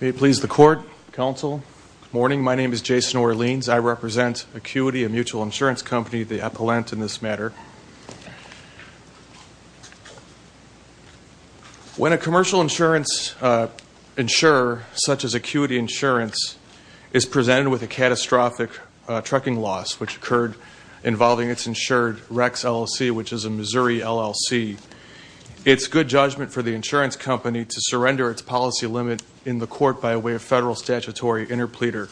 May it please the Court, Counsel. Good morning. My name is Jason Orleans. I represent Acuity, A Mutual Insurance Company, the appellant in this matter. When a commercial insurance insurer, such as Acuity Insurance, is presented with a catastrophic trucking loss, which occurred involving its insured Rex, LLC, which is a Missouri LLC, it's good judgment for the insurance company to surrender its policy limit in the court by way of federal statutory interpleader.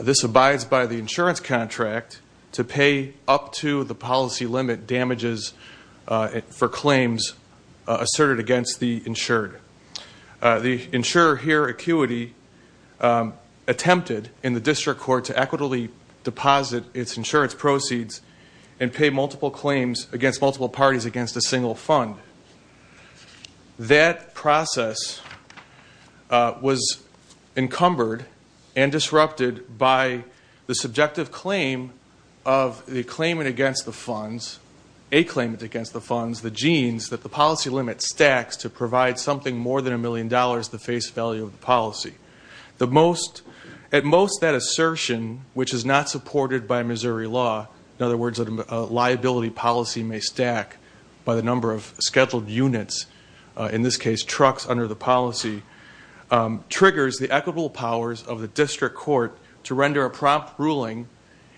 This abides by the insurance contract to pay up to the policy limit damages for claims asserted against the insured. The insurer here, Acuity, attempted, in the district court, to equitably deposit its insurance proceeds and pay multiple claims against multiple parties against a single fund. That process was encumbered and disrupted by the subjective claim of the claimant against the funds, a claimant against the funds, the genes that the policy limit stacks to provide something more than a million dollars to the face value of the policy. At most, that assertion, which is not supported by Missouri law, in other words, a liability policy may stack by the number of scheduled units, in this case trucks under the policy, triggers the equitable powers of the district court to render a prompt ruling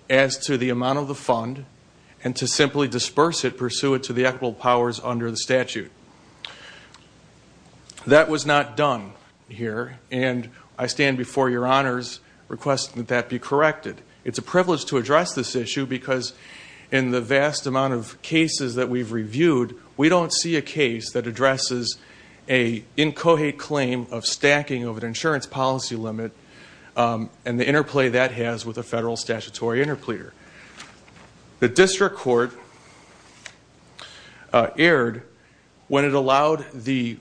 as to the amount of the fund and to simply disperse it, pursue it to the equitable powers under the statute. That was not done here, and I stand before your honors requesting that that be corrected. It's a privilege to address this issue because in the vast amount of cases that we've reviewed, we don't see a case that addresses an incoherent claim of stacking of an insurance policy limit and the interplay that has with a federal statutory interpleader. The district court erred when it allowed the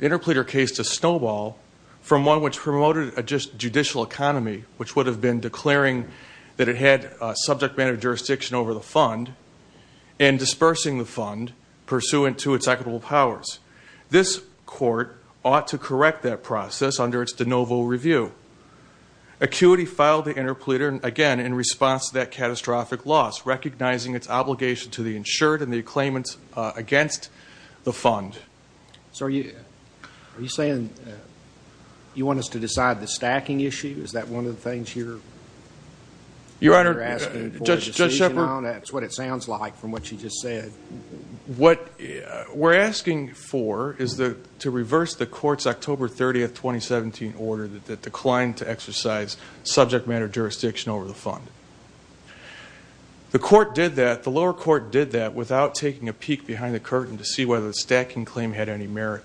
interpleader case to snowball from one which promoted a judicial economy, which would have been declaring that it had subject matter jurisdiction over the fund and dispersing the fund pursuant to its equitable powers. This court ought to correct that process under its de novo review. Acuity filed the interpleader, again, in response to that catastrophic loss, recognizing its obligation to the insured and the claimants against the fund. So are you saying you want us to decide the stacking issue? Is that one of the things you're asking for a decision on? That's what it sounds like from what you just said. What we're asking for is to reverse the court's October 30, 2017, order that declined to exercise subject matter jurisdiction over the fund. The lower court did that without taking a peek behind the curtain to see whether the stacking claim had any merit.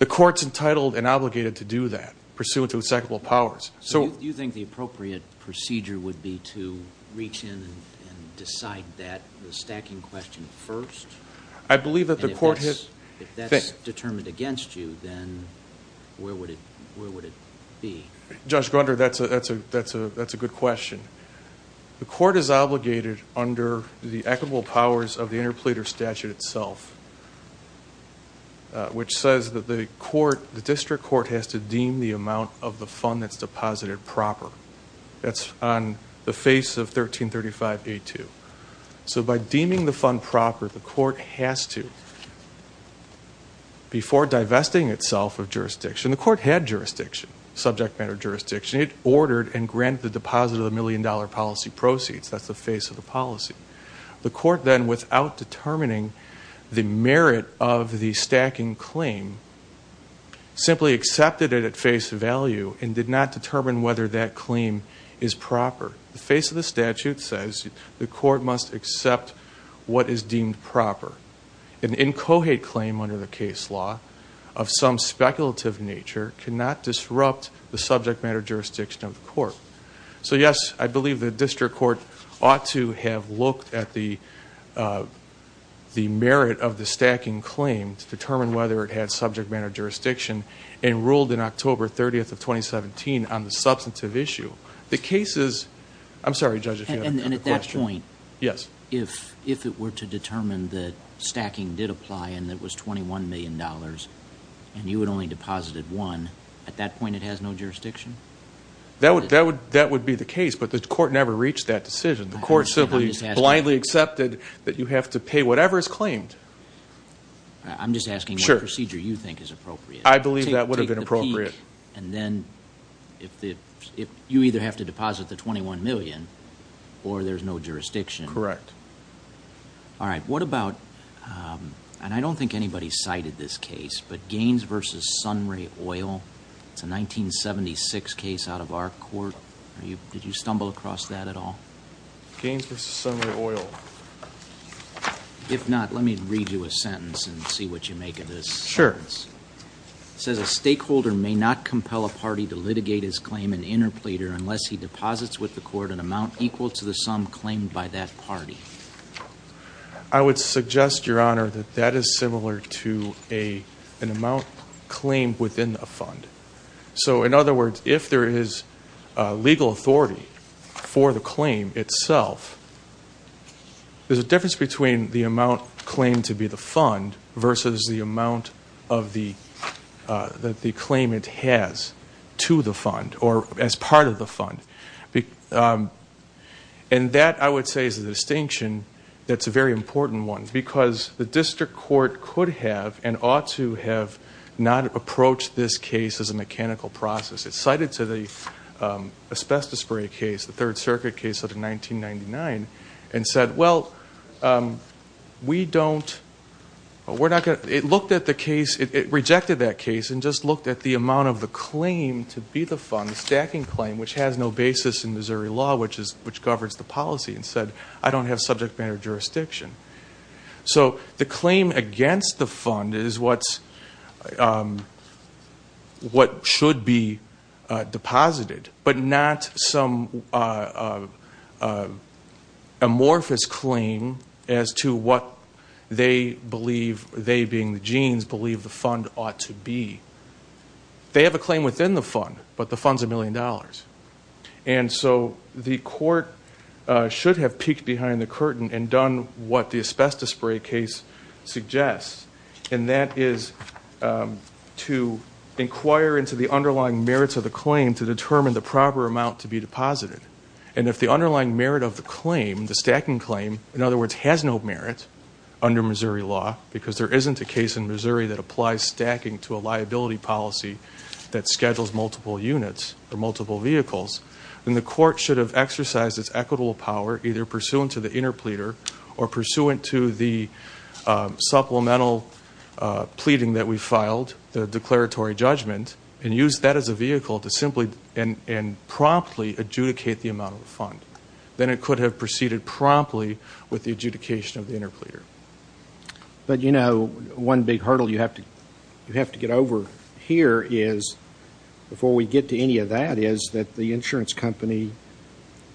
The court's entitled and obligated to do that pursuant to its equitable powers. So you think the appropriate procedure would be to reach in and decide that, the stacking question, first? I believe that the court has. If that's determined against you, then where would it be? Judge Grunder, that's a good question. The court is obligated under the equitable powers of the interpleader statute itself, which says that the district court has to deem the amount of the fund that's deposited proper. That's on the face of 1335A2. So by deeming the fund proper, the court has to, before divesting itself of jurisdiction, the court had jurisdiction, subject matter jurisdiction. It ordered and granted the deposit of the million-dollar policy proceeds. That's the face of the policy. The court then, without determining the merit of the stacking claim, simply accepted it at face value and did not determine whether that claim is proper. The face of the statute says the court must accept what is deemed proper. An incohate claim under the case law of some speculative nature cannot disrupt the subject matter jurisdiction of the court. So, yes, I believe the district court ought to have looked at the merit of the stacking claim to determine whether it had subject matter jurisdiction and ruled in October 30th of 2017 on the substantive issue. The case is, I'm sorry, Judge, if you had a question. And at that point, if it were to determine that stacking did apply and it was $21 million and you had only deposited one, at that point it has no jurisdiction? That would be the case, but the court never reached that decision. The court simply blindly accepted that you have to pay whatever is claimed. I'm just asking what procedure you think is appropriate. I believe that would have been appropriate. And then you either have to deposit the $21 million or there's no jurisdiction. Correct. All right, what about, and I don't think anybody cited this case, but Gaines v. Sunray Oil, it's a 1976 case out of our court. Did you stumble across that at all? Gaines v. Sunray Oil. If not, let me read you a sentence and see what you make of this. Sure. It says a stakeholder may not compel a party to litigate his claim in interpleader unless he deposits with the court an amount equal to the sum claimed by that party. I would suggest, Your Honor, that that is similar to an amount claimed within a fund. So, in other words, if there is legal authority for the claim itself, there's a difference between the amount claimed to be the fund versus the amount of the claim it has to the fund or as part of the fund. And that, I would say, is a distinction that's a very important one because the district court could have and ought to have not approached this case as a mechanical process. It's cited to the asbestos spray case, the Third Circuit case out of 1999, and said, well, it rejected that case and just looked at the amount of the claim to be the fund, the stacking claim, which has no basis in Missouri law, which governs the policy, and said, I don't have subject matter jurisdiction. So the claim against the fund is what should be deposited but not some amorphous claim as to what they believe, they being the Jeans, believe the fund ought to be. They have a claim within the fund, but the fund's a million dollars. And so the court should have peeked behind the curtain and done what the asbestos spray case suggests, and that is to inquire into the underlying merits of the claim to determine the proper amount to be deposited. And if the underlying merit of the claim, the stacking claim, in other words, has no merit under Missouri law because there isn't a case in Missouri that applies stacking to a liability policy that schedules multiple units or multiple vehicles, then the court should have exercised its equitable power either pursuant to the interpleader or pursuant to the supplemental pleading that we filed, the declaratory judgment, and used that as a vehicle to simply and promptly adjudicate the amount of the fund. Then it could have proceeded promptly with the adjudication of the interpleader. But, you know, one big hurdle you have to get over here is, before we get to any of that, is that the insurance company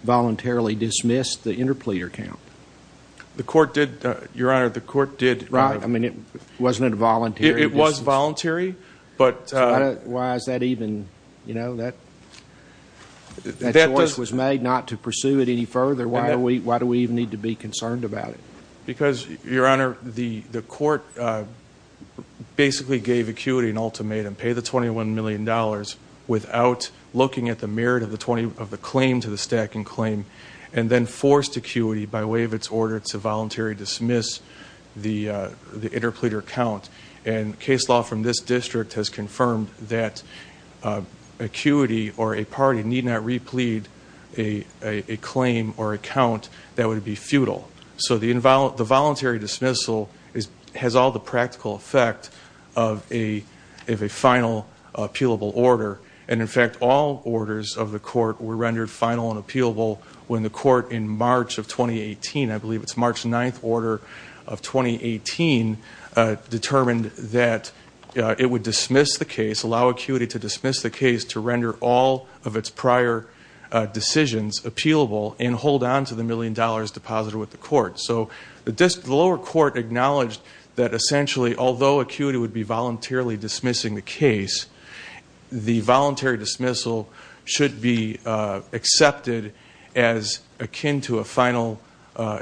voluntarily dismissed the interpleader count. The court did, Your Honor, the court did. I mean, wasn't it a voluntary dismissal? It was voluntary. Why is that even, you know, that choice was made not to pursue it any further? Why do we even need to be concerned about it? Because, Your Honor, the court basically gave acuity an ultimatum, pay the $21 million without looking at the merit of the claim to the stacking claim, and then forced acuity by way of its order to voluntarily dismiss the interpleader count. And case law from this district has confirmed that acuity or a party need not replead a claim or a count that would be futile. So the voluntary dismissal has all the practical effect of a final appealable order. And, in fact, all orders of the court were rendered final and appealable when the court in March of 2018, I believe it's March 9th order of 2018, determined that it would dismiss the case, allow acuity to dismiss the case to render all of its prior decisions appealable and hold on to the $1 million deposited with the court. So the lower court acknowledged that, essentially, although acuity would be voluntarily dismissing the case, the voluntary dismissal should be accepted as akin to a final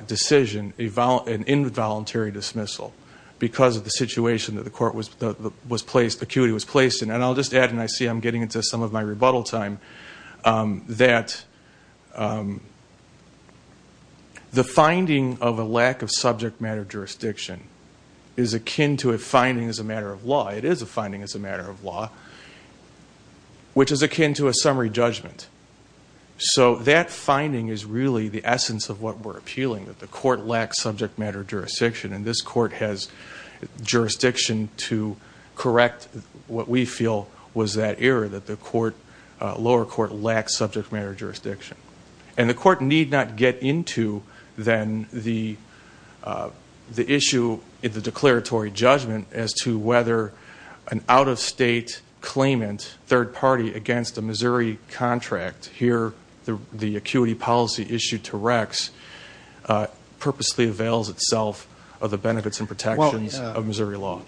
decision, an involuntary dismissal because of the situation that the court was placed, acuity was placed in. And I'll just add, and I see I'm getting into some of my rebuttal time, that the finding of a lack of subject matter jurisdiction is akin to a finding as a matter of law. It is a finding as a matter of law, which is akin to a summary judgment. So that finding is really the essence of what we're appealing, that the court lacks subject matter jurisdiction, and this court has jurisdiction to correct what we feel was that error, that the lower court lacks subject matter jurisdiction. And the court need not get into, then, the issue in the declaratory judgment as to whether an out-of-state claimant, third party against a Missouri contract, here the acuity policy issued to Rex, purposely avails itself of the benefits and protections of Missouri law.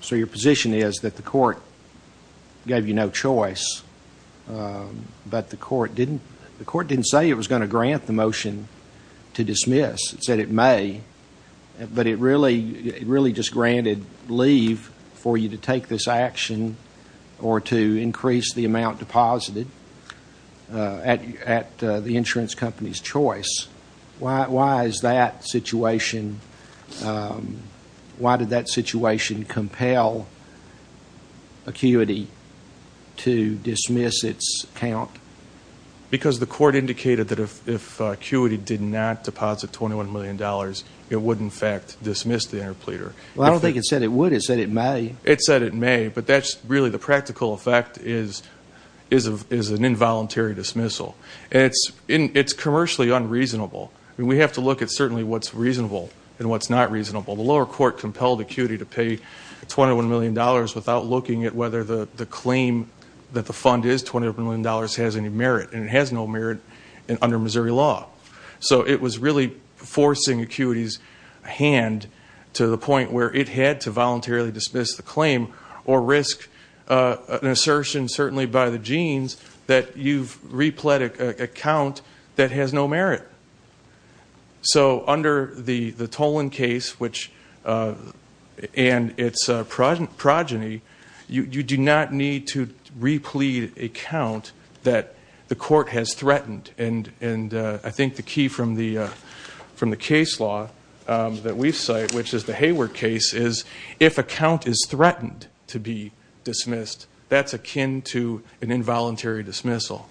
So your position is that the court gave you no choice, but the court didn't say it was going to grant the motion to dismiss. It said it may, but it really just granted leave for you to take this action or to increase the amount deposited at the insurance company's choice. Why did that situation compel acuity to dismiss its count? Because the court indicated that if acuity did not deposit $21 million, it would, in fact, dismiss the interpleader. Well, I don't think it said it would. It said it may. It said it may, but that's really the practical effect is an involuntary dismissal. It's commercially unreasonable. We have to look at certainly what's reasonable and what's not reasonable. The lower court compelled acuity to pay $21 million without looking at whether the claim that the fund is $21 million has any merit, and it has no merit under Missouri law. So it was really forcing acuity's hand to the point where it had to voluntarily dismiss the claim or risk an assertion certainly by the jeans that you've replete a count that has no merit. So under the Tolan case and its progeny, you do not need to replete a count that the court has threatened. And I think the key from the case law that we cite, which is the Hayward case, is if a count is threatened to be dismissed, that's akin to an involuntary dismissal.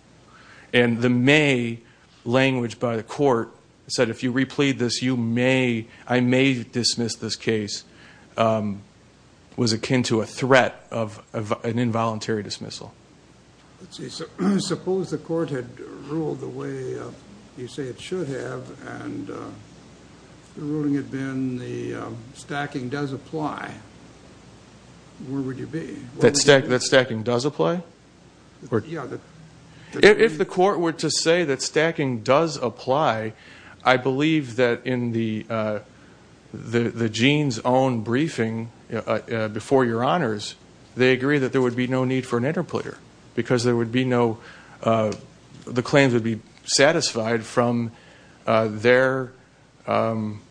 And the may language by the court said if you replete this, you may, I may dismiss this case, was akin to a threat of an involuntary dismissal. Suppose the court had ruled the way you say it should have, and the ruling had been the stacking does apply. Where would you be? That stacking does apply? Yeah. If the court were to say that stacking does apply, I believe that in the jeans' own briefing before your honors, they agree that there would be no need for an interplayer because there would be no, the claims would be satisfied from their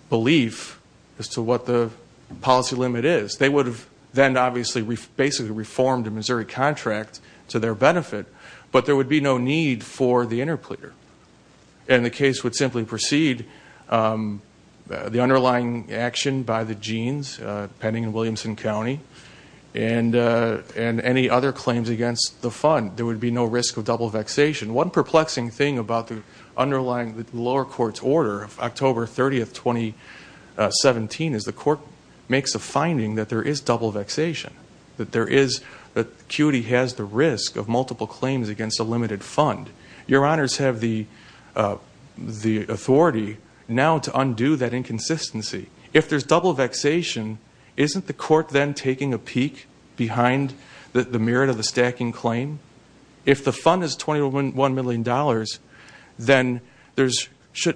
belief as to what the policy limit is. They would have then obviously basically reformed a Missouri contract to their benefit, but there would be no need for the interplayer. And the case would simply precede the underlying action by the jeans, pending in Williamson County, and any other claims against the fund. There would be no risk of double vexation. One perplexing thing about the underlying lower court's order of October 30th, 2017, is the court makes a finding that there is double vexation, that QD has the risk of multiple claims against a limited fund. Your honors have the authority now to undo that inconsistency. If there's double vexation, isn't the court then taking a peek behind the merit of the stacking claim? If the fund is $21 million,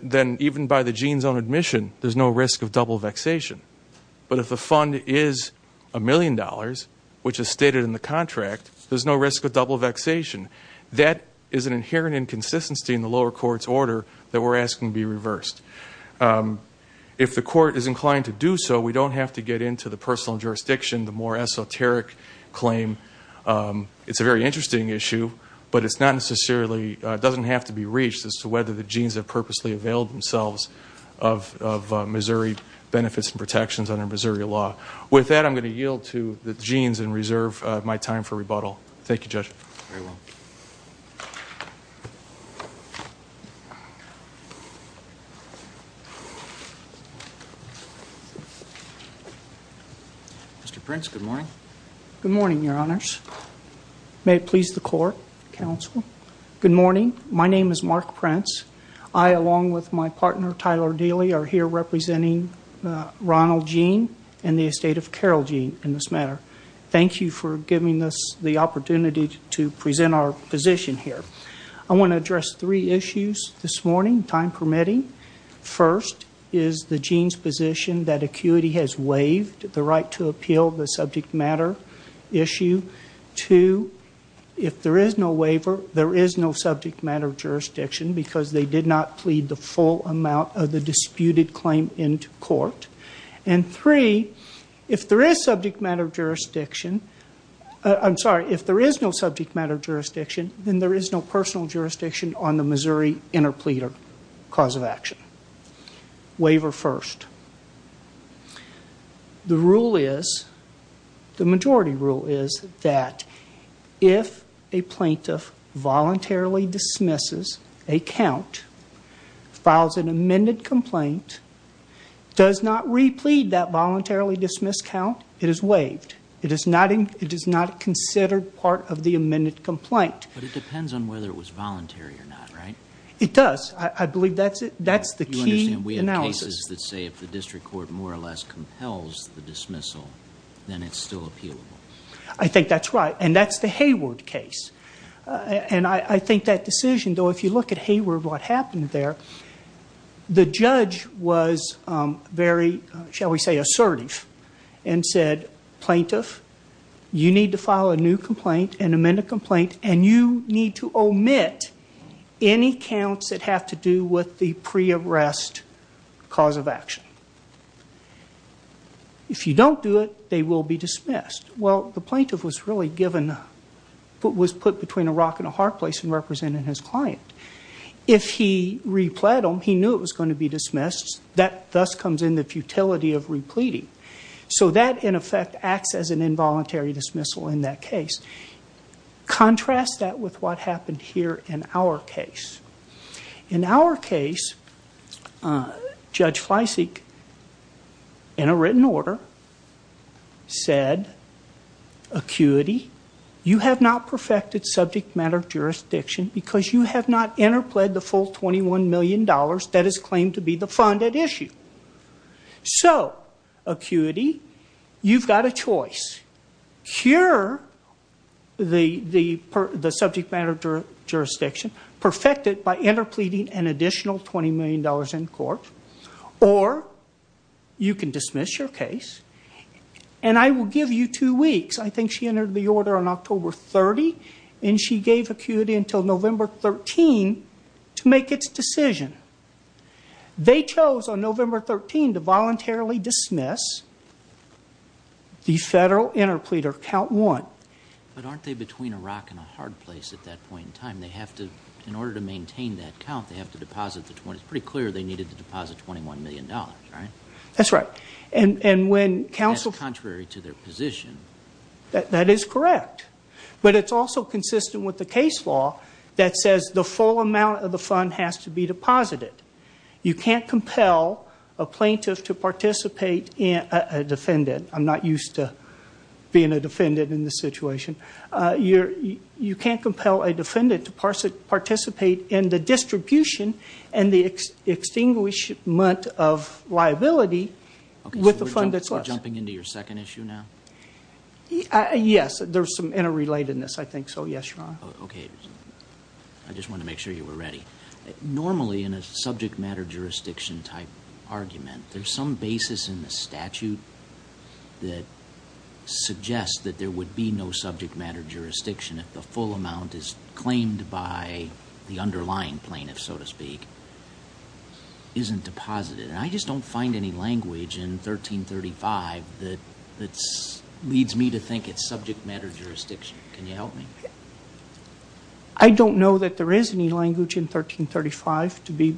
then even by the jeans' own admission, there's no risk of double vexation. But if the fund is $1 million, which is stated in the contract, there's no risk of double vexation. That is an inherent inconsistency in the lower court's order that we're asking to be reversed. If the court is inclined to do so, we don't have to get into the personal jurisdiction, the more esoteric claim. It's a very interesting issue, but it's not necessarily, it doesn't have to be reached as to whether the jeans have purposely availed themselves of Missouri benefits and protections under Missouri law. With that, I'm going to yield to the jeans and reserve my time for rebuttal. Thank you, Judge. Very well. Mr. Prince, good morning. Good morning, your honors. May it please the court, counsel. Good morning. My name is Mark Prince. I, along with my partner, Tyler Daly, are here representing Ronald Jean and the estate of Carol Jean in this matter. Thank you for giving us the opportunity to present our position here. I want to address three issues this morning, time permitting. First is the jeans' position that acuity has waived the right to appeal the subject matter issue. Two, if there is no waiver, there is no subject matter jurisdiction because they did not plead the full amount of the disputed claim into court. And three, if there is subject matter jurisdiction, I'm sorry, if there is no subject matter jurisdiction, then there is no personal jurisdiction on the Missouri interpleader cause of action. Waiver first. The rule is, the majority rule is that if a plaintiff voluntarily dismisses a count, files an amended complaint, does not replead that voluntarily dismissed count, it is waived. It is not considered part of the amended complaint. But it depends on whether it was voluntary or not, right? It does. I believe that's the key analysis. We have cases that say if the district court more or less compels the dismissal, then it's still appealable. I think that's right, and that's the Hayward case. And I think that decision, though, if you look at Hayward, what happened there, the judge was very, shall we say, assertive and said, plaintiff, you need to file a new complaint, an amended complaint, and you need to omit any counts that have to do with the pre-arrest cause of action. If you don't do it, they will be dismissed. Well, the plaintiff was really given, was put between a rock and a hard place in representing his client. If he repled him, he knew it was going to be dismissed. That thus comes in the futility of repleting. So that, in effect, acts as an involuntary dismissal in that case. Contrast that with what happened here in our case. In our case, Judge Fleisig, in a written order, said, acuity, you have not perfected subject matter jurisdiction because you have not interpled the full $21 million that is claimed to be the fund at issue. So, acuity, you've got a choice. Cure the subject matter jurisdiction, perfect it by interpleading an additional $20 million in court, or you can dismiss your case, and I will give you two weeks. I think she entered the order on October 30, and she gave acuity until November 13 to make its decision. They chose on November 13 to voluntarily dismiss the federal interpleader, count one. But aren't they between a rock and a hard place at that point in time? They have to, in order to maintain that count, they have to deposit the, it's pretty clear they needed to deposit $21 million, right? That's right. That's contrary to their position. That is correct. But it's also consistent with the case law that says the full amount of the fund has to be deposited. You can't compel a plaintiff to participate in a defendant. I'm not used to being a defendant in this situation. You can't compel a defendant to participate in the distribution and the extinguishment of liability with the fund that's left. So we're jumping into your second issue now? Yes. There's some interrelatedness, I think, so yes, Your Honor. Okay. I just wanted to make sure you were ready. Normally in a subject matter jurisdiction type argument, there's some basis in the statute that suggests that there would be no subject matter jurisdiction if the full amount is claimed by the underlying plaintiff, so to speak, isn't deposited. And I just don't find any language in 1335 that leads me to think it's subject matter jurisdiction. Can you help me? I don't know that there is any language in 1335, to be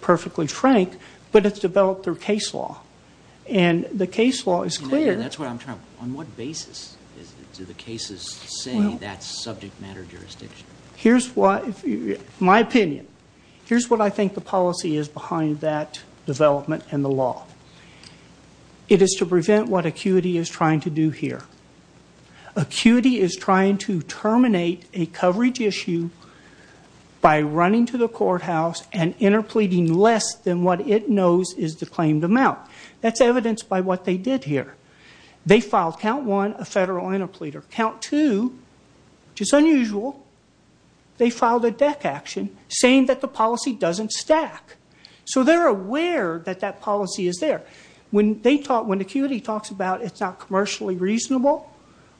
perfectly frank, but it's developed through case law, and the case law is clear. That's what I'm trying to ask. On what basis do the cases say that's subject matter jurisdiction? Here's my opinion. Here's what I think the policy is behind that development in the law. It is to prevent what acuity is trying to do here. Acuity is trying to terminate a coverage issue by running to the courthouse and interpleading less than what it knows is the claimed amount. That's evidenced by what they did here. They filed count one, a federal interpleader. Count two, which is unusual, they filed a deck action saying that the policy doesn't stack. So they're aware that that policy is there. When acuity talks about it's not commercially reasonable,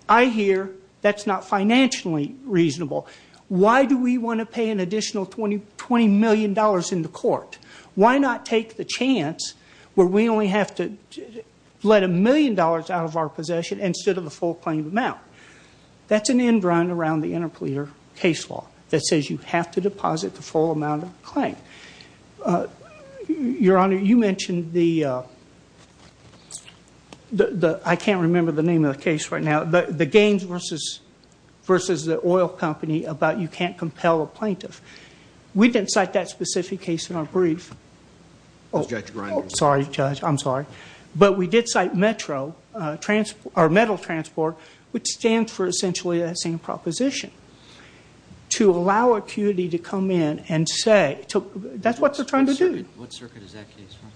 I hear that's not financially reasonable. Why do we want to pay an additional $20 million in the court? Why not take the chance where we only have to let a million dollars out of our possession instead of the full claimed amount? That's an end run around the interpleader case law that says you have to deposit the full amount of the claim. Your Honor, you mentioned the, I can't remember the name of the case right now, the Gaines versus the oil company about you can't compel a plaintiff. We didn't cite that specific case in our brief. Sorry, Judge, I'm sorry. But we did cite Metro, or metal transport, which stands for essentially that same proposition. To allow acuity to come in and say, that's what they're trying to do. What circuit is that case from?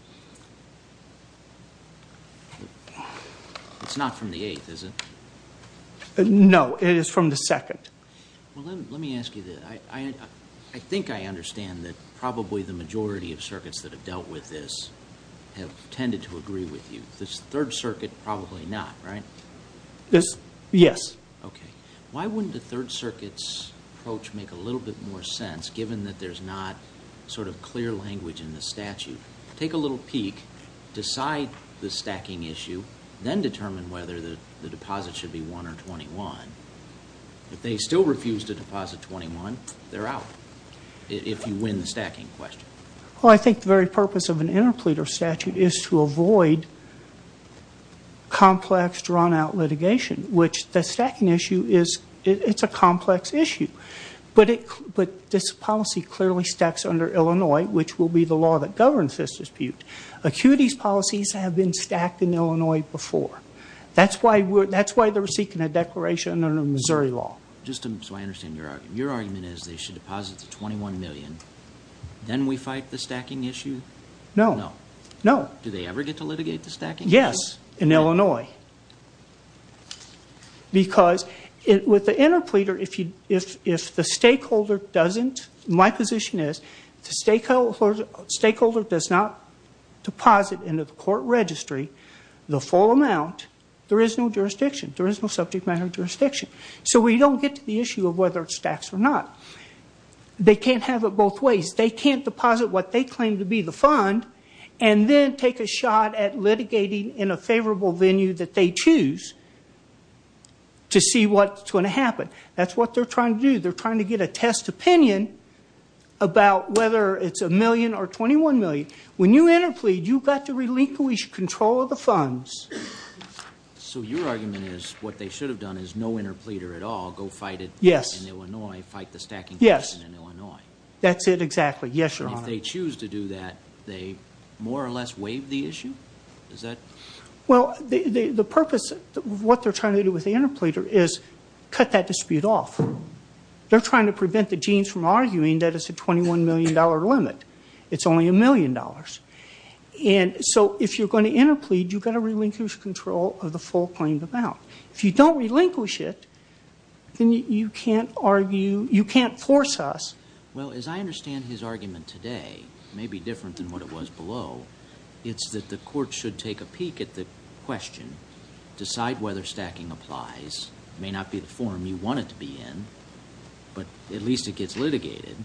It's not from the eighth, is it? No, it is from the second. Let me ask you this. I think I understand that probably the majority of circuits that have dealt with this have tended to agree with you. This third circuit, probably not, right? Yes. Okay. Why wouldn't a third circuit's approach make a little bit more sense, given that there's not sort of clear language in the statute? Take a little peek, decide the stacking issue, then determine whether the deposit should be 1 or 21. If they still refuse to deposit 21, they're out, if you win the stacking question. Well, I think the very purpose of an interpleader statute is to avoid complex, drawn-out litigation, which the stacking issue is a complex issue. But this policy clearly stacks under Illinois, which will be the law that governs this dispute. Acuity's policies have been stacked in Illinois before. That's why they're seeking a declaration under Missouri law. So I understand your argument. Your argument is they should deposit the 21 million, then we fight the stacking issue? No. No. Do they ever get to litigate the stacking issue? Yes, in Illinois. Because with the interpleader, if the stakeholder doesn't, my position is, if the stakeholder does not deposit into the court registry the full amount, there is no jurisdiction. There is no subject matter jurisdiction. So we don't get to the issue of whether it stacks or not. They can't have it both ways. They can't deposit what they claim to be the fund and then take a shot at litigating in a favorable venue that they choose to see what's going to happen. That's what they're trying to do. They're trying to get a test opinion about whether it's a million or 21 million. When you interplead, you've got to relinquish control of the funds. So your argument is what they should have done is no interpleader at all, go fight it in Illinois, fight the stacking question in Illinois. That's it exactly. Yes, Your Honor. If they choose to do that, they more or less waive the issue? Well, the purpose of what they're trying to do with the interpleader is cut that dispute off. They're trying to prevent the jeans from arguing that it's a $21 million limit. It's only a million dollars. And so if you're going to interplead, you've got to relinquish control of the full claimed amount. If you don't relinquish it, then you can't argue, you can't force us. Well, as I understand his argument today, maybe different than what it was below, it's that the court should take a peek at the question, decide whether stacking applies. It may not be the form you want it to be in, but at least it gets litigated.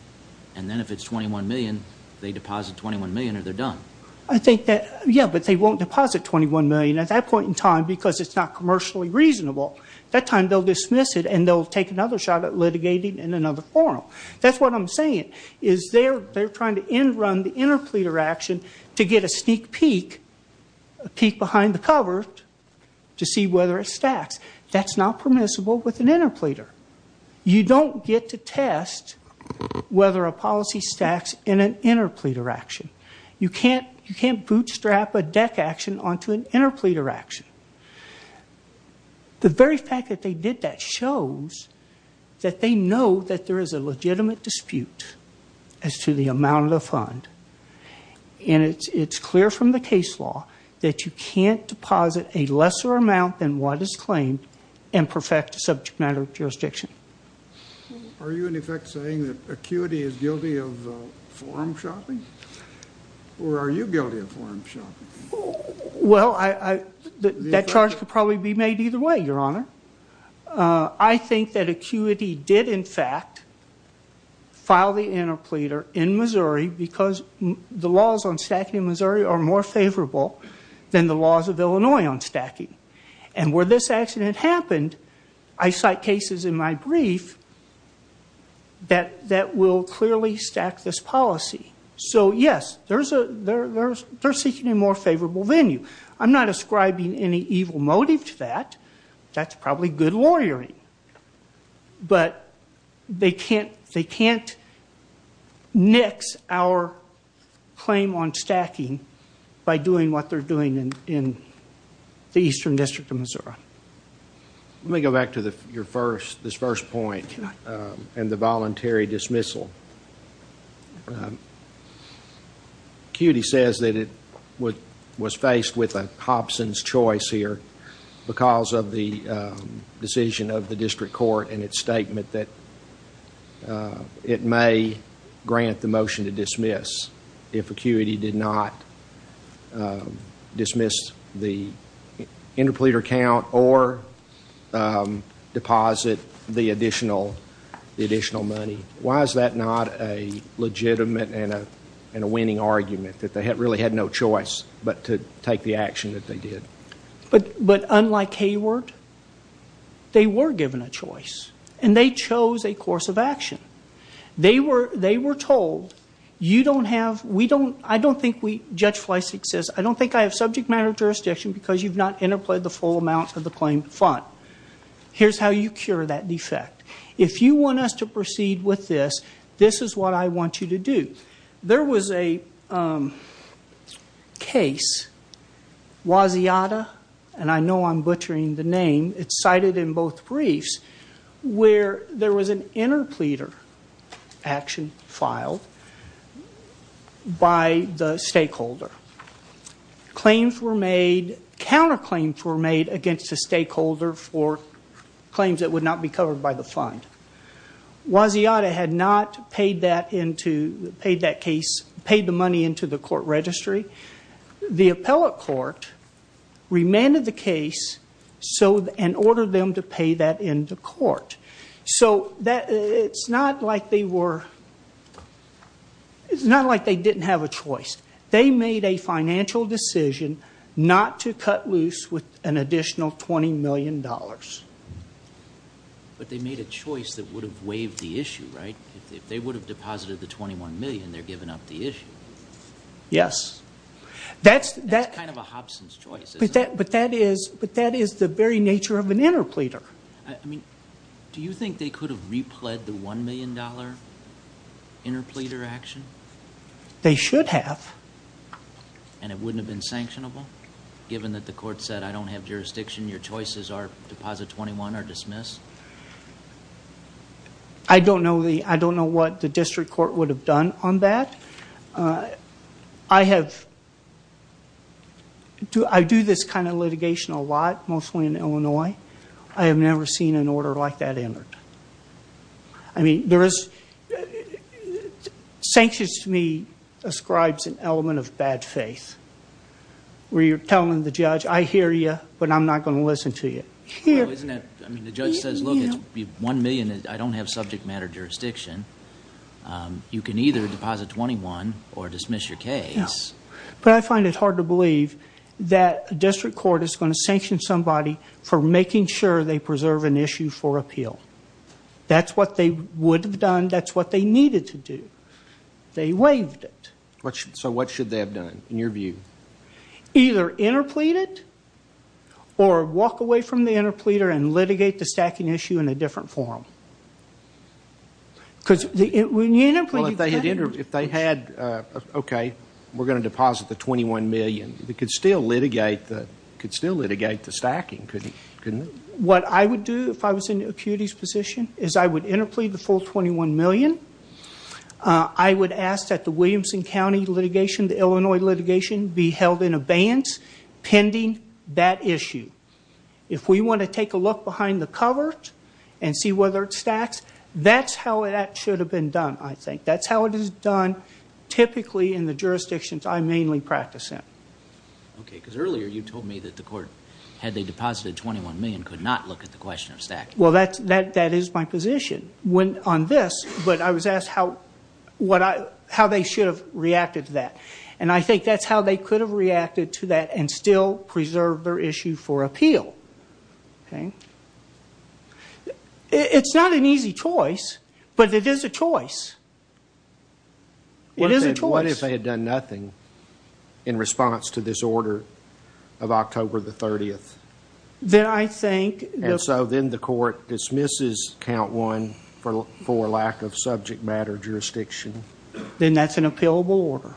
And then if it's 21 million, they deposit 21 million or they're done. I think that, yeah, but they won't deposit 21 million at that point in time because it's not commercially reasonable. That time they'll dismiss it and they'll take another shot at litigating in another forum. That's what I'm saying is they're trying to end run the interpleader action to get a sneak peek, a peek behind the cover to see whether it stacks. That's not permissible with an interpleader. You don't get to test whether a policy stacks in an interpleader action. You can't bootstrap a deck action onto an interpleader action. The very fact that they did that shows that they know that there is a legitimate dispute as to the amount of the fund. And it's clear from the case law that you can't deposit a lesser amount than what is claimed and perfect subject matter jurisdiction. Are you, in effect, saying that ACQUITY is guilty of forum shopping? Or are you guilty of forum shopping? Well, that charge could probably be made either way, Your Honor. I think that ACQUITY did, in fact, file the interpleader in Missouri because the laws on stacking in Missouri are more favorable than the laws of Illinois on stacking. And where this accident happened, I cite cases in my brief that will clearly stack this policy. So, yes, they're seeking a more favorable venue. I'm not ascribing any evil motive to that. That's probably good lawyering. But they can't nix our claim on stacking by doing what they're doing in the eastern district of Missouri. Let me go back to this first point and the voluntary dismissal. ACQUITY says that it was faced with a Hobson's choice here because of the decision of the district court in its statement that it may grant the motion to dismiss if ACQUITY did not dismiss the interpleader count or deposit the additional money. Why is that not a legitimate and a winning argument, that they really had no choice but to take the action that they did? But unlike Hayward, they were given a choice. And they chose a course of action. They were told, you don't have, we don't, I don't think we, Judge Fleisig says, I don't think I have subject matter jurisdiction because you've not interpled the full amount of the claimed fund. Here's how you cure that defect. If you want us to proceed with this, this is what I want you to do. There was a case, Waziata, and I know I'm butchering the name, it's cited in both briefs, where there was an interpleader action filed by the stakeholder. Claims were made, counterclaims were made against the stakeholder for claims that would not be covered by the fund. Waziata had not paid that case, paid the money into the court registry. The appellate court remanded the case and ordered them to pay that in the court. So it's not like they were, it's not like they didn't have a choice. They made a financial decision not to cut loose with an additional $20 million. But they made a choice that would have waived the issue, right? If they would have deposited the $21 million, they're giving up the issue. Yes. That's kind of a Hobson's choice, isn't it? But that is the very nature of an interpleader. I mean, do you think they could have repled the $1 million interpleader action? They should have. And it wouldn't have been sanctionable, given that the court said, I don't have jurisdiction, your choices are deposit $21 or dismiss? I don't know what the district court would have done on that. I have, I do this kind of litigation a lot, mostly in Illinois. I have never seen an order like that entered. I mean, there is, sanctions to me ascribes an element of bad faith, where you're telling the judge, I hear you, but I'm not going to listen to you. The judge says, look, $1 million, I don't have subject matter jurisdiction. You can either deposit $21 or dismiss your case. But I find it hard to believe that a district court is going to sanction somebody for making sure they preserve an issue for appeal. That's what they would have done. That's what they needed to do. They waived it. So what should they have done, in your view? Either interplead it or walk away from the interpleader and litigate the stacking issue in a different forum. Well, if they had, okay, we're going to deposit the $21 million. They could still litigate the stacking, couldn't they? What I would do if I was in Acuity's position is I would interplead the full $21 million. I would ask that the Williamson County litigation, the Illinois litigation, be held in abeyance pending that issue. If we want to take a look behind the cover and see whether it stacks, that's how it is done typically in the jurisdictions I mainly practice in. Okay, because earlier you told me that the court, had they deposited $21 million, could not look at the question of stacking. Well, that is my position on this. But I was asked how they should have reacted to that. And I think that's how they could have reacted to that and still preserved their issue for appeal. Okay. It's not an easy choice, but it is a choice. It is a choice. What if they had done nothing in response to this order of October the 30th? Then I think... And so then the court dismisses count one for lack of subject matter jurisdiction. Then that's an appealable order.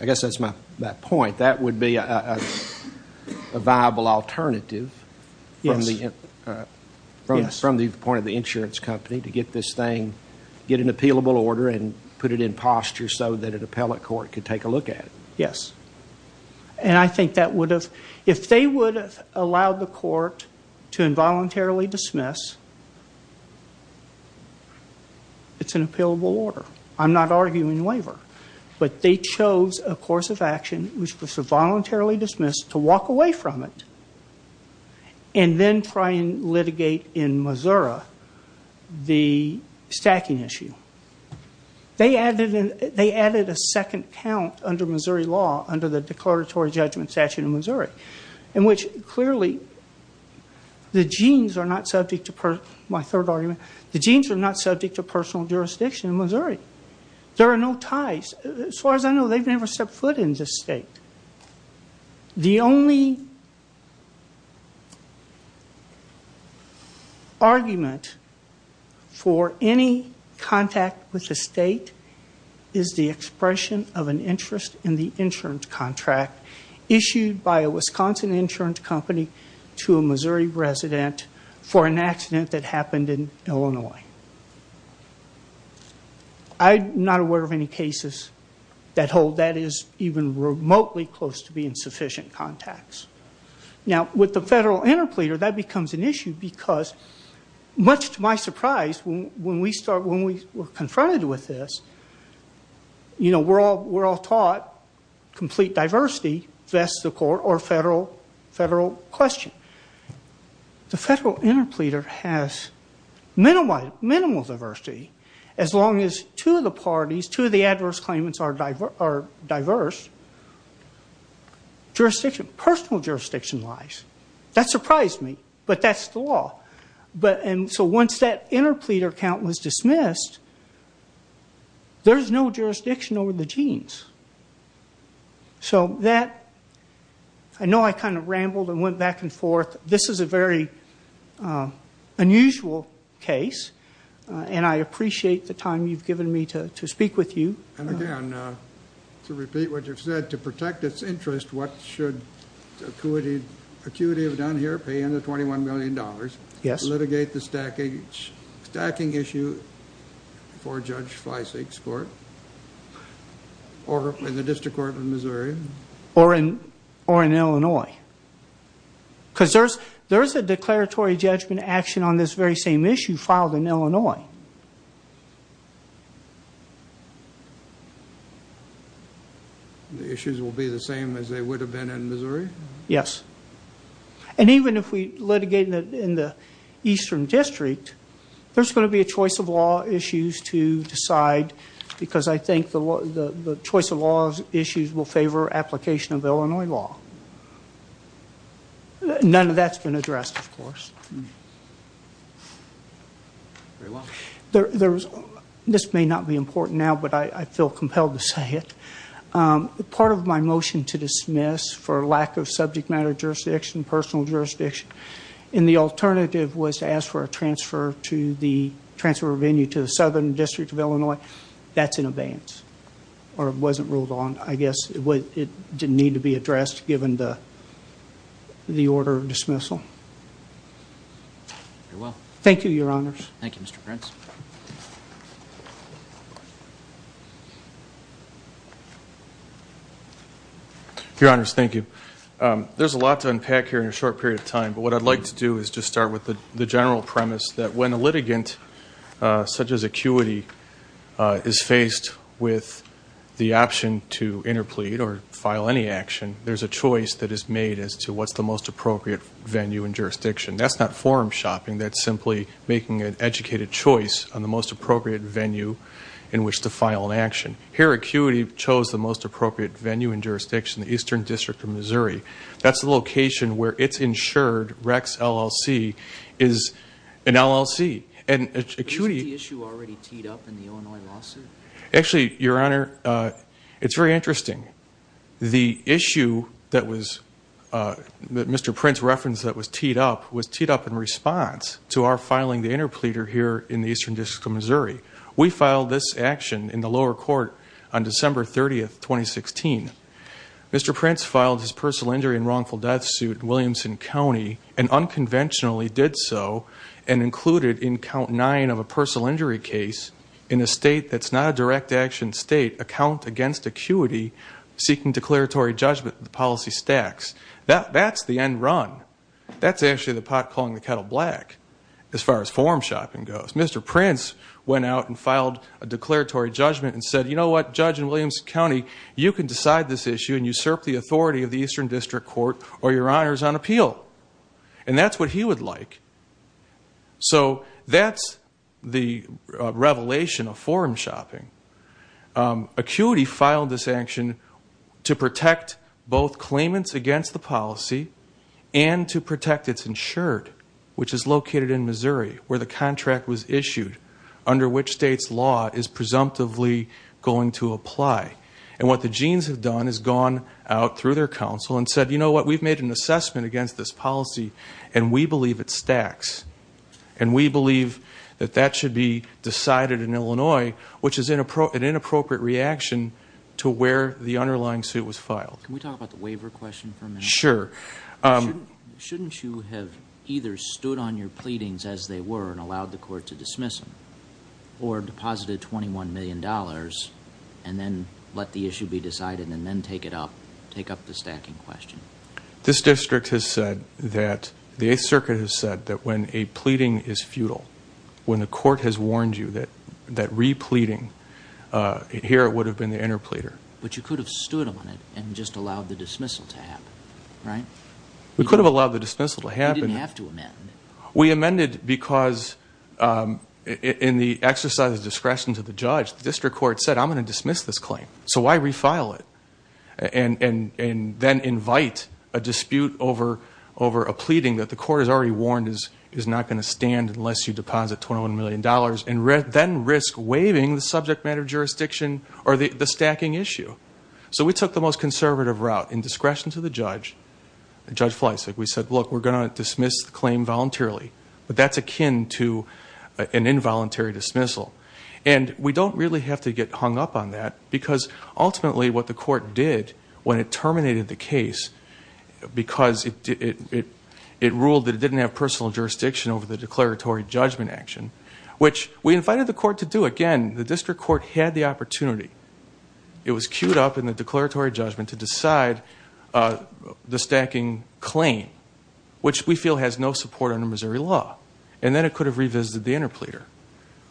I guess that's my point. That would be a viable alternative from the point of the insurance company to get this thing, get an appealable order and put it in posture so that an appellate court could take a look at it. Yes. And I think that would have... to involuntarily dismiss. It's an appealable order. I'm not arguing waiver. But they chose a course of action which was to voluntarily dismiss to walk away from it and then try and litigate in Missouri the stacking issue. They added a second count under Missouri law, under the Declaratory Judgment Statute of Missouri, in which clearly the genes are not subject to personal jurisdiction in Missouri. There are no ties. As far as I know, they've never stepped foot in this state. The only argument for any contact with the state is the expression of an interest in the insurance contract issued by a Wisconsin insurance company to a Missouri resident for an accident that happened in Illinois. I'm not aware of any cases that hold that is even remotely close to being sufficient contacts. Now, with the federal interpleader, that becomes an issue because, much to my surprise, when we were confronted with this, you know, we're all taught complete diversity vests the court or federal question. The federal interpleader has minimal diversity. As long as two of the parties, two of the adverse claimants are diverse, jurisdiction, personal jurisdiction lies. That surprised me, but that's the law. And so once that interpleader count was dismissed, there's no jurisdiction over the genes. So that, I know I kind of rambled and went back and forth. This is a very unusual case, and I appreciate the time you've given me to speak with you. And again, to repeat what you've said, to protect its interest, what should ACUITY have done here, pay in the $21 million, litigate the stacking issue before Judge Fleisig's court or in the District Court of Missouri? Or in Illinois. Because there's a declaratory judgment action on this very same issue filed in Illinois. The issues will be the same as they would have been in Missouri? Yes. And even if we litigate in the Eastern District, there's going to be a choice of law issues to decide because I think the choice of law issues will favor application of Illinois law. None of that's been addressed, of course. Very well. This may not be important now, but I feel compelled to say it. Part of my motion to dismiss for lack of subject matter jurisdiction, personal jurisdiction, and the alternative was to ask for a transfer venue to the Southern District of Illinois. That's in abeyance, or it wasn't ruled on, I guess. It didn't need to be addressed given the order of dismissal. Very well. Thank you, Your Honors. Thank you, Mr. Prince. Your Honors, thank you. There's a lot to unpack here in a short period of time, but what I'd like to do is just start with the general premise that when a litigant such as Acuity is faced with the option to interplead or file any action, there's a choice that is made as to what's the most appropriate venue and jurisdiction. That's not forum shopping. That's simply making an educated choice on the most appropriate venue in which to file an action. Here, Acuity chose the most appropriate venue and jurisdiction, the Eastern District of Missouri. That's the location where it's insured, Rex LLC, is an LLC. Isn't the issue already teed up in the Illinois lawsuit? Actually, Your Honor, it's very interesting. The issue that Mr. Prince referenced that was teed up was teed up in response to our filing the interpleader here in the Eastern District of Missouri. We filed this action in the lower court on December 30, 2016. Mr. Prince filed his personal injury and wrongful death suit in Williamson County and unconventionally did so and included in count nine of a personal injury case in a state that's not a direct action state, a count against Acuity, seeking declaratory judgment of the policy stacks. That's the end run. That's actually the pot calling the kettle black as far as forum shopping goes. Mr. Prince went out and filed a declaratory judgment and said, you know what, Judge in Williamson County, you can decide this issue and usurp the authority of the Eastern District Court or Your Honors on appeal. And that's what he would like. So that's the revelation of forum shopping. Acuity filed this action to protect both claimants against the policy and to protect its insured, which is located in Missouri, where the contract was issued under which state's law is presumptively going to apply. And what the Jeans have done is gone out through their counsel and said, you know what, we've made an assessment against this policy, and we believe it stacks. And we believe that that should be decided in Illinois, which is an inappropriate reaction to where the underlying suit was filed. Can we talk about the waiver question for a minute? Sure. Shouldn't you have either stood on your pleadings as they were and allowed the court to dismiss them or deposited $21 million and then let the issue be decided and then take it up, take up the stacking question? This district has said that the Eighth Circuit has said that when a pleading is futile, when the court has warned you that repleading, here it would have been the interpleader. But you could have stood on it and just allowed the dismissal to happen, right? We could have allowed the dismissal to happen. You didn't have to amend it. We amended because in the exercise of discretion to the judge, the district court said, I'm going to dismiss this claim, so why refile it? And then invite a dispute over a pleading that the court has already warned is not going to stand So we took the most conservative route in discretion to the judge, Judge Fleisig. We said, look, we're going to dismiss the claim voluntarily, but that's akin to an involuntary dismissal. And we don't really have to get hung up on that because ultimately what the court did when it terminated the case because it ruled that it didn't have personal jurisdiction over the declaratory judgment action, which we invited the court to do again. The district court had the opportunity. It was queued up in the declaratory judgment to decide the stacking claim, which we feel has no support under Missouri law. And then it could have revisited the interpleader.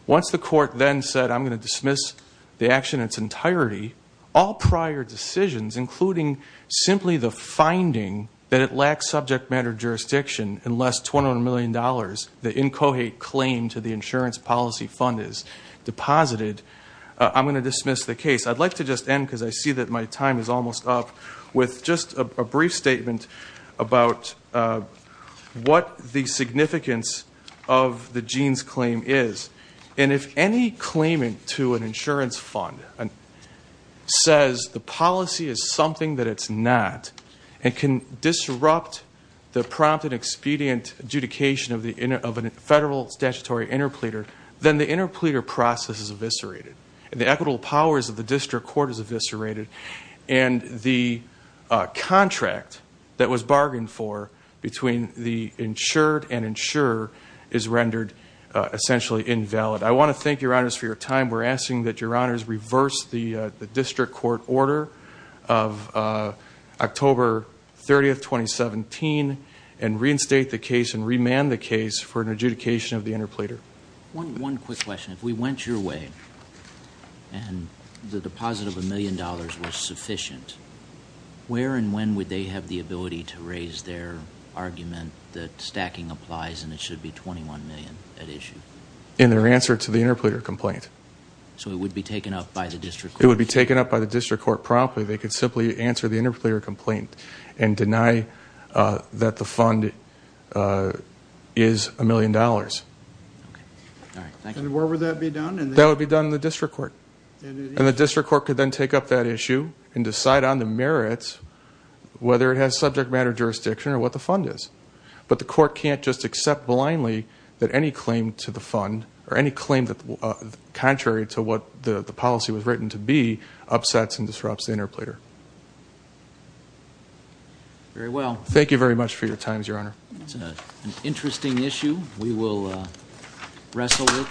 Once the court then said, I'm going to dismiss the action in its entirety, all prior decisions, including simply the finding that it lacks subject matter jurisdiction unless $200 million, the incohate claim to the insurance policy fund is deposited, I'm going to dismiss the case. I'd like to just end, because I see that my time is almost up, with just a brief statement about what the significance of the Jeans claim is. And if any claimant to an insurance fund says the policy is something that it's not and can disrupt the prompt and expedient adjudication of a federal statutory interpleader, then the interpleader process is eviscerated, and the equitable powers of the district court is eviscerated, and the contract that was bargained for between the insured and insurer is rendered essentially invalid. I want to thank Your Honors for your time. We're asking that Your Honors reverse the district court order of October 30, 2017, and reinstate the case and remand the case for an adjudication of the interpleader. One quick question. If we went your way and the deposit of $1 million was sufficient, where and when would they have the ability to raise their argument that stacking applies and it should be $21 million at issue? In their answer to the interpleader complaint. So it would be taken up by the district court? It would be taken up by the district court promptly. They could simply answer the interpleader complaint and deny that the fund is $1 million. Okay. All right. Thank you. And where would that be done? That would be done in the district court. And the district court could then take up that issue and decide on the merits, whether it has subject matter jurisdiction or what the fund is. But the court can't just accept blindly that any claim to the fund Very well. Thank you very much for your time, Your Honor. It's an interesting issue. We will wrestle with it.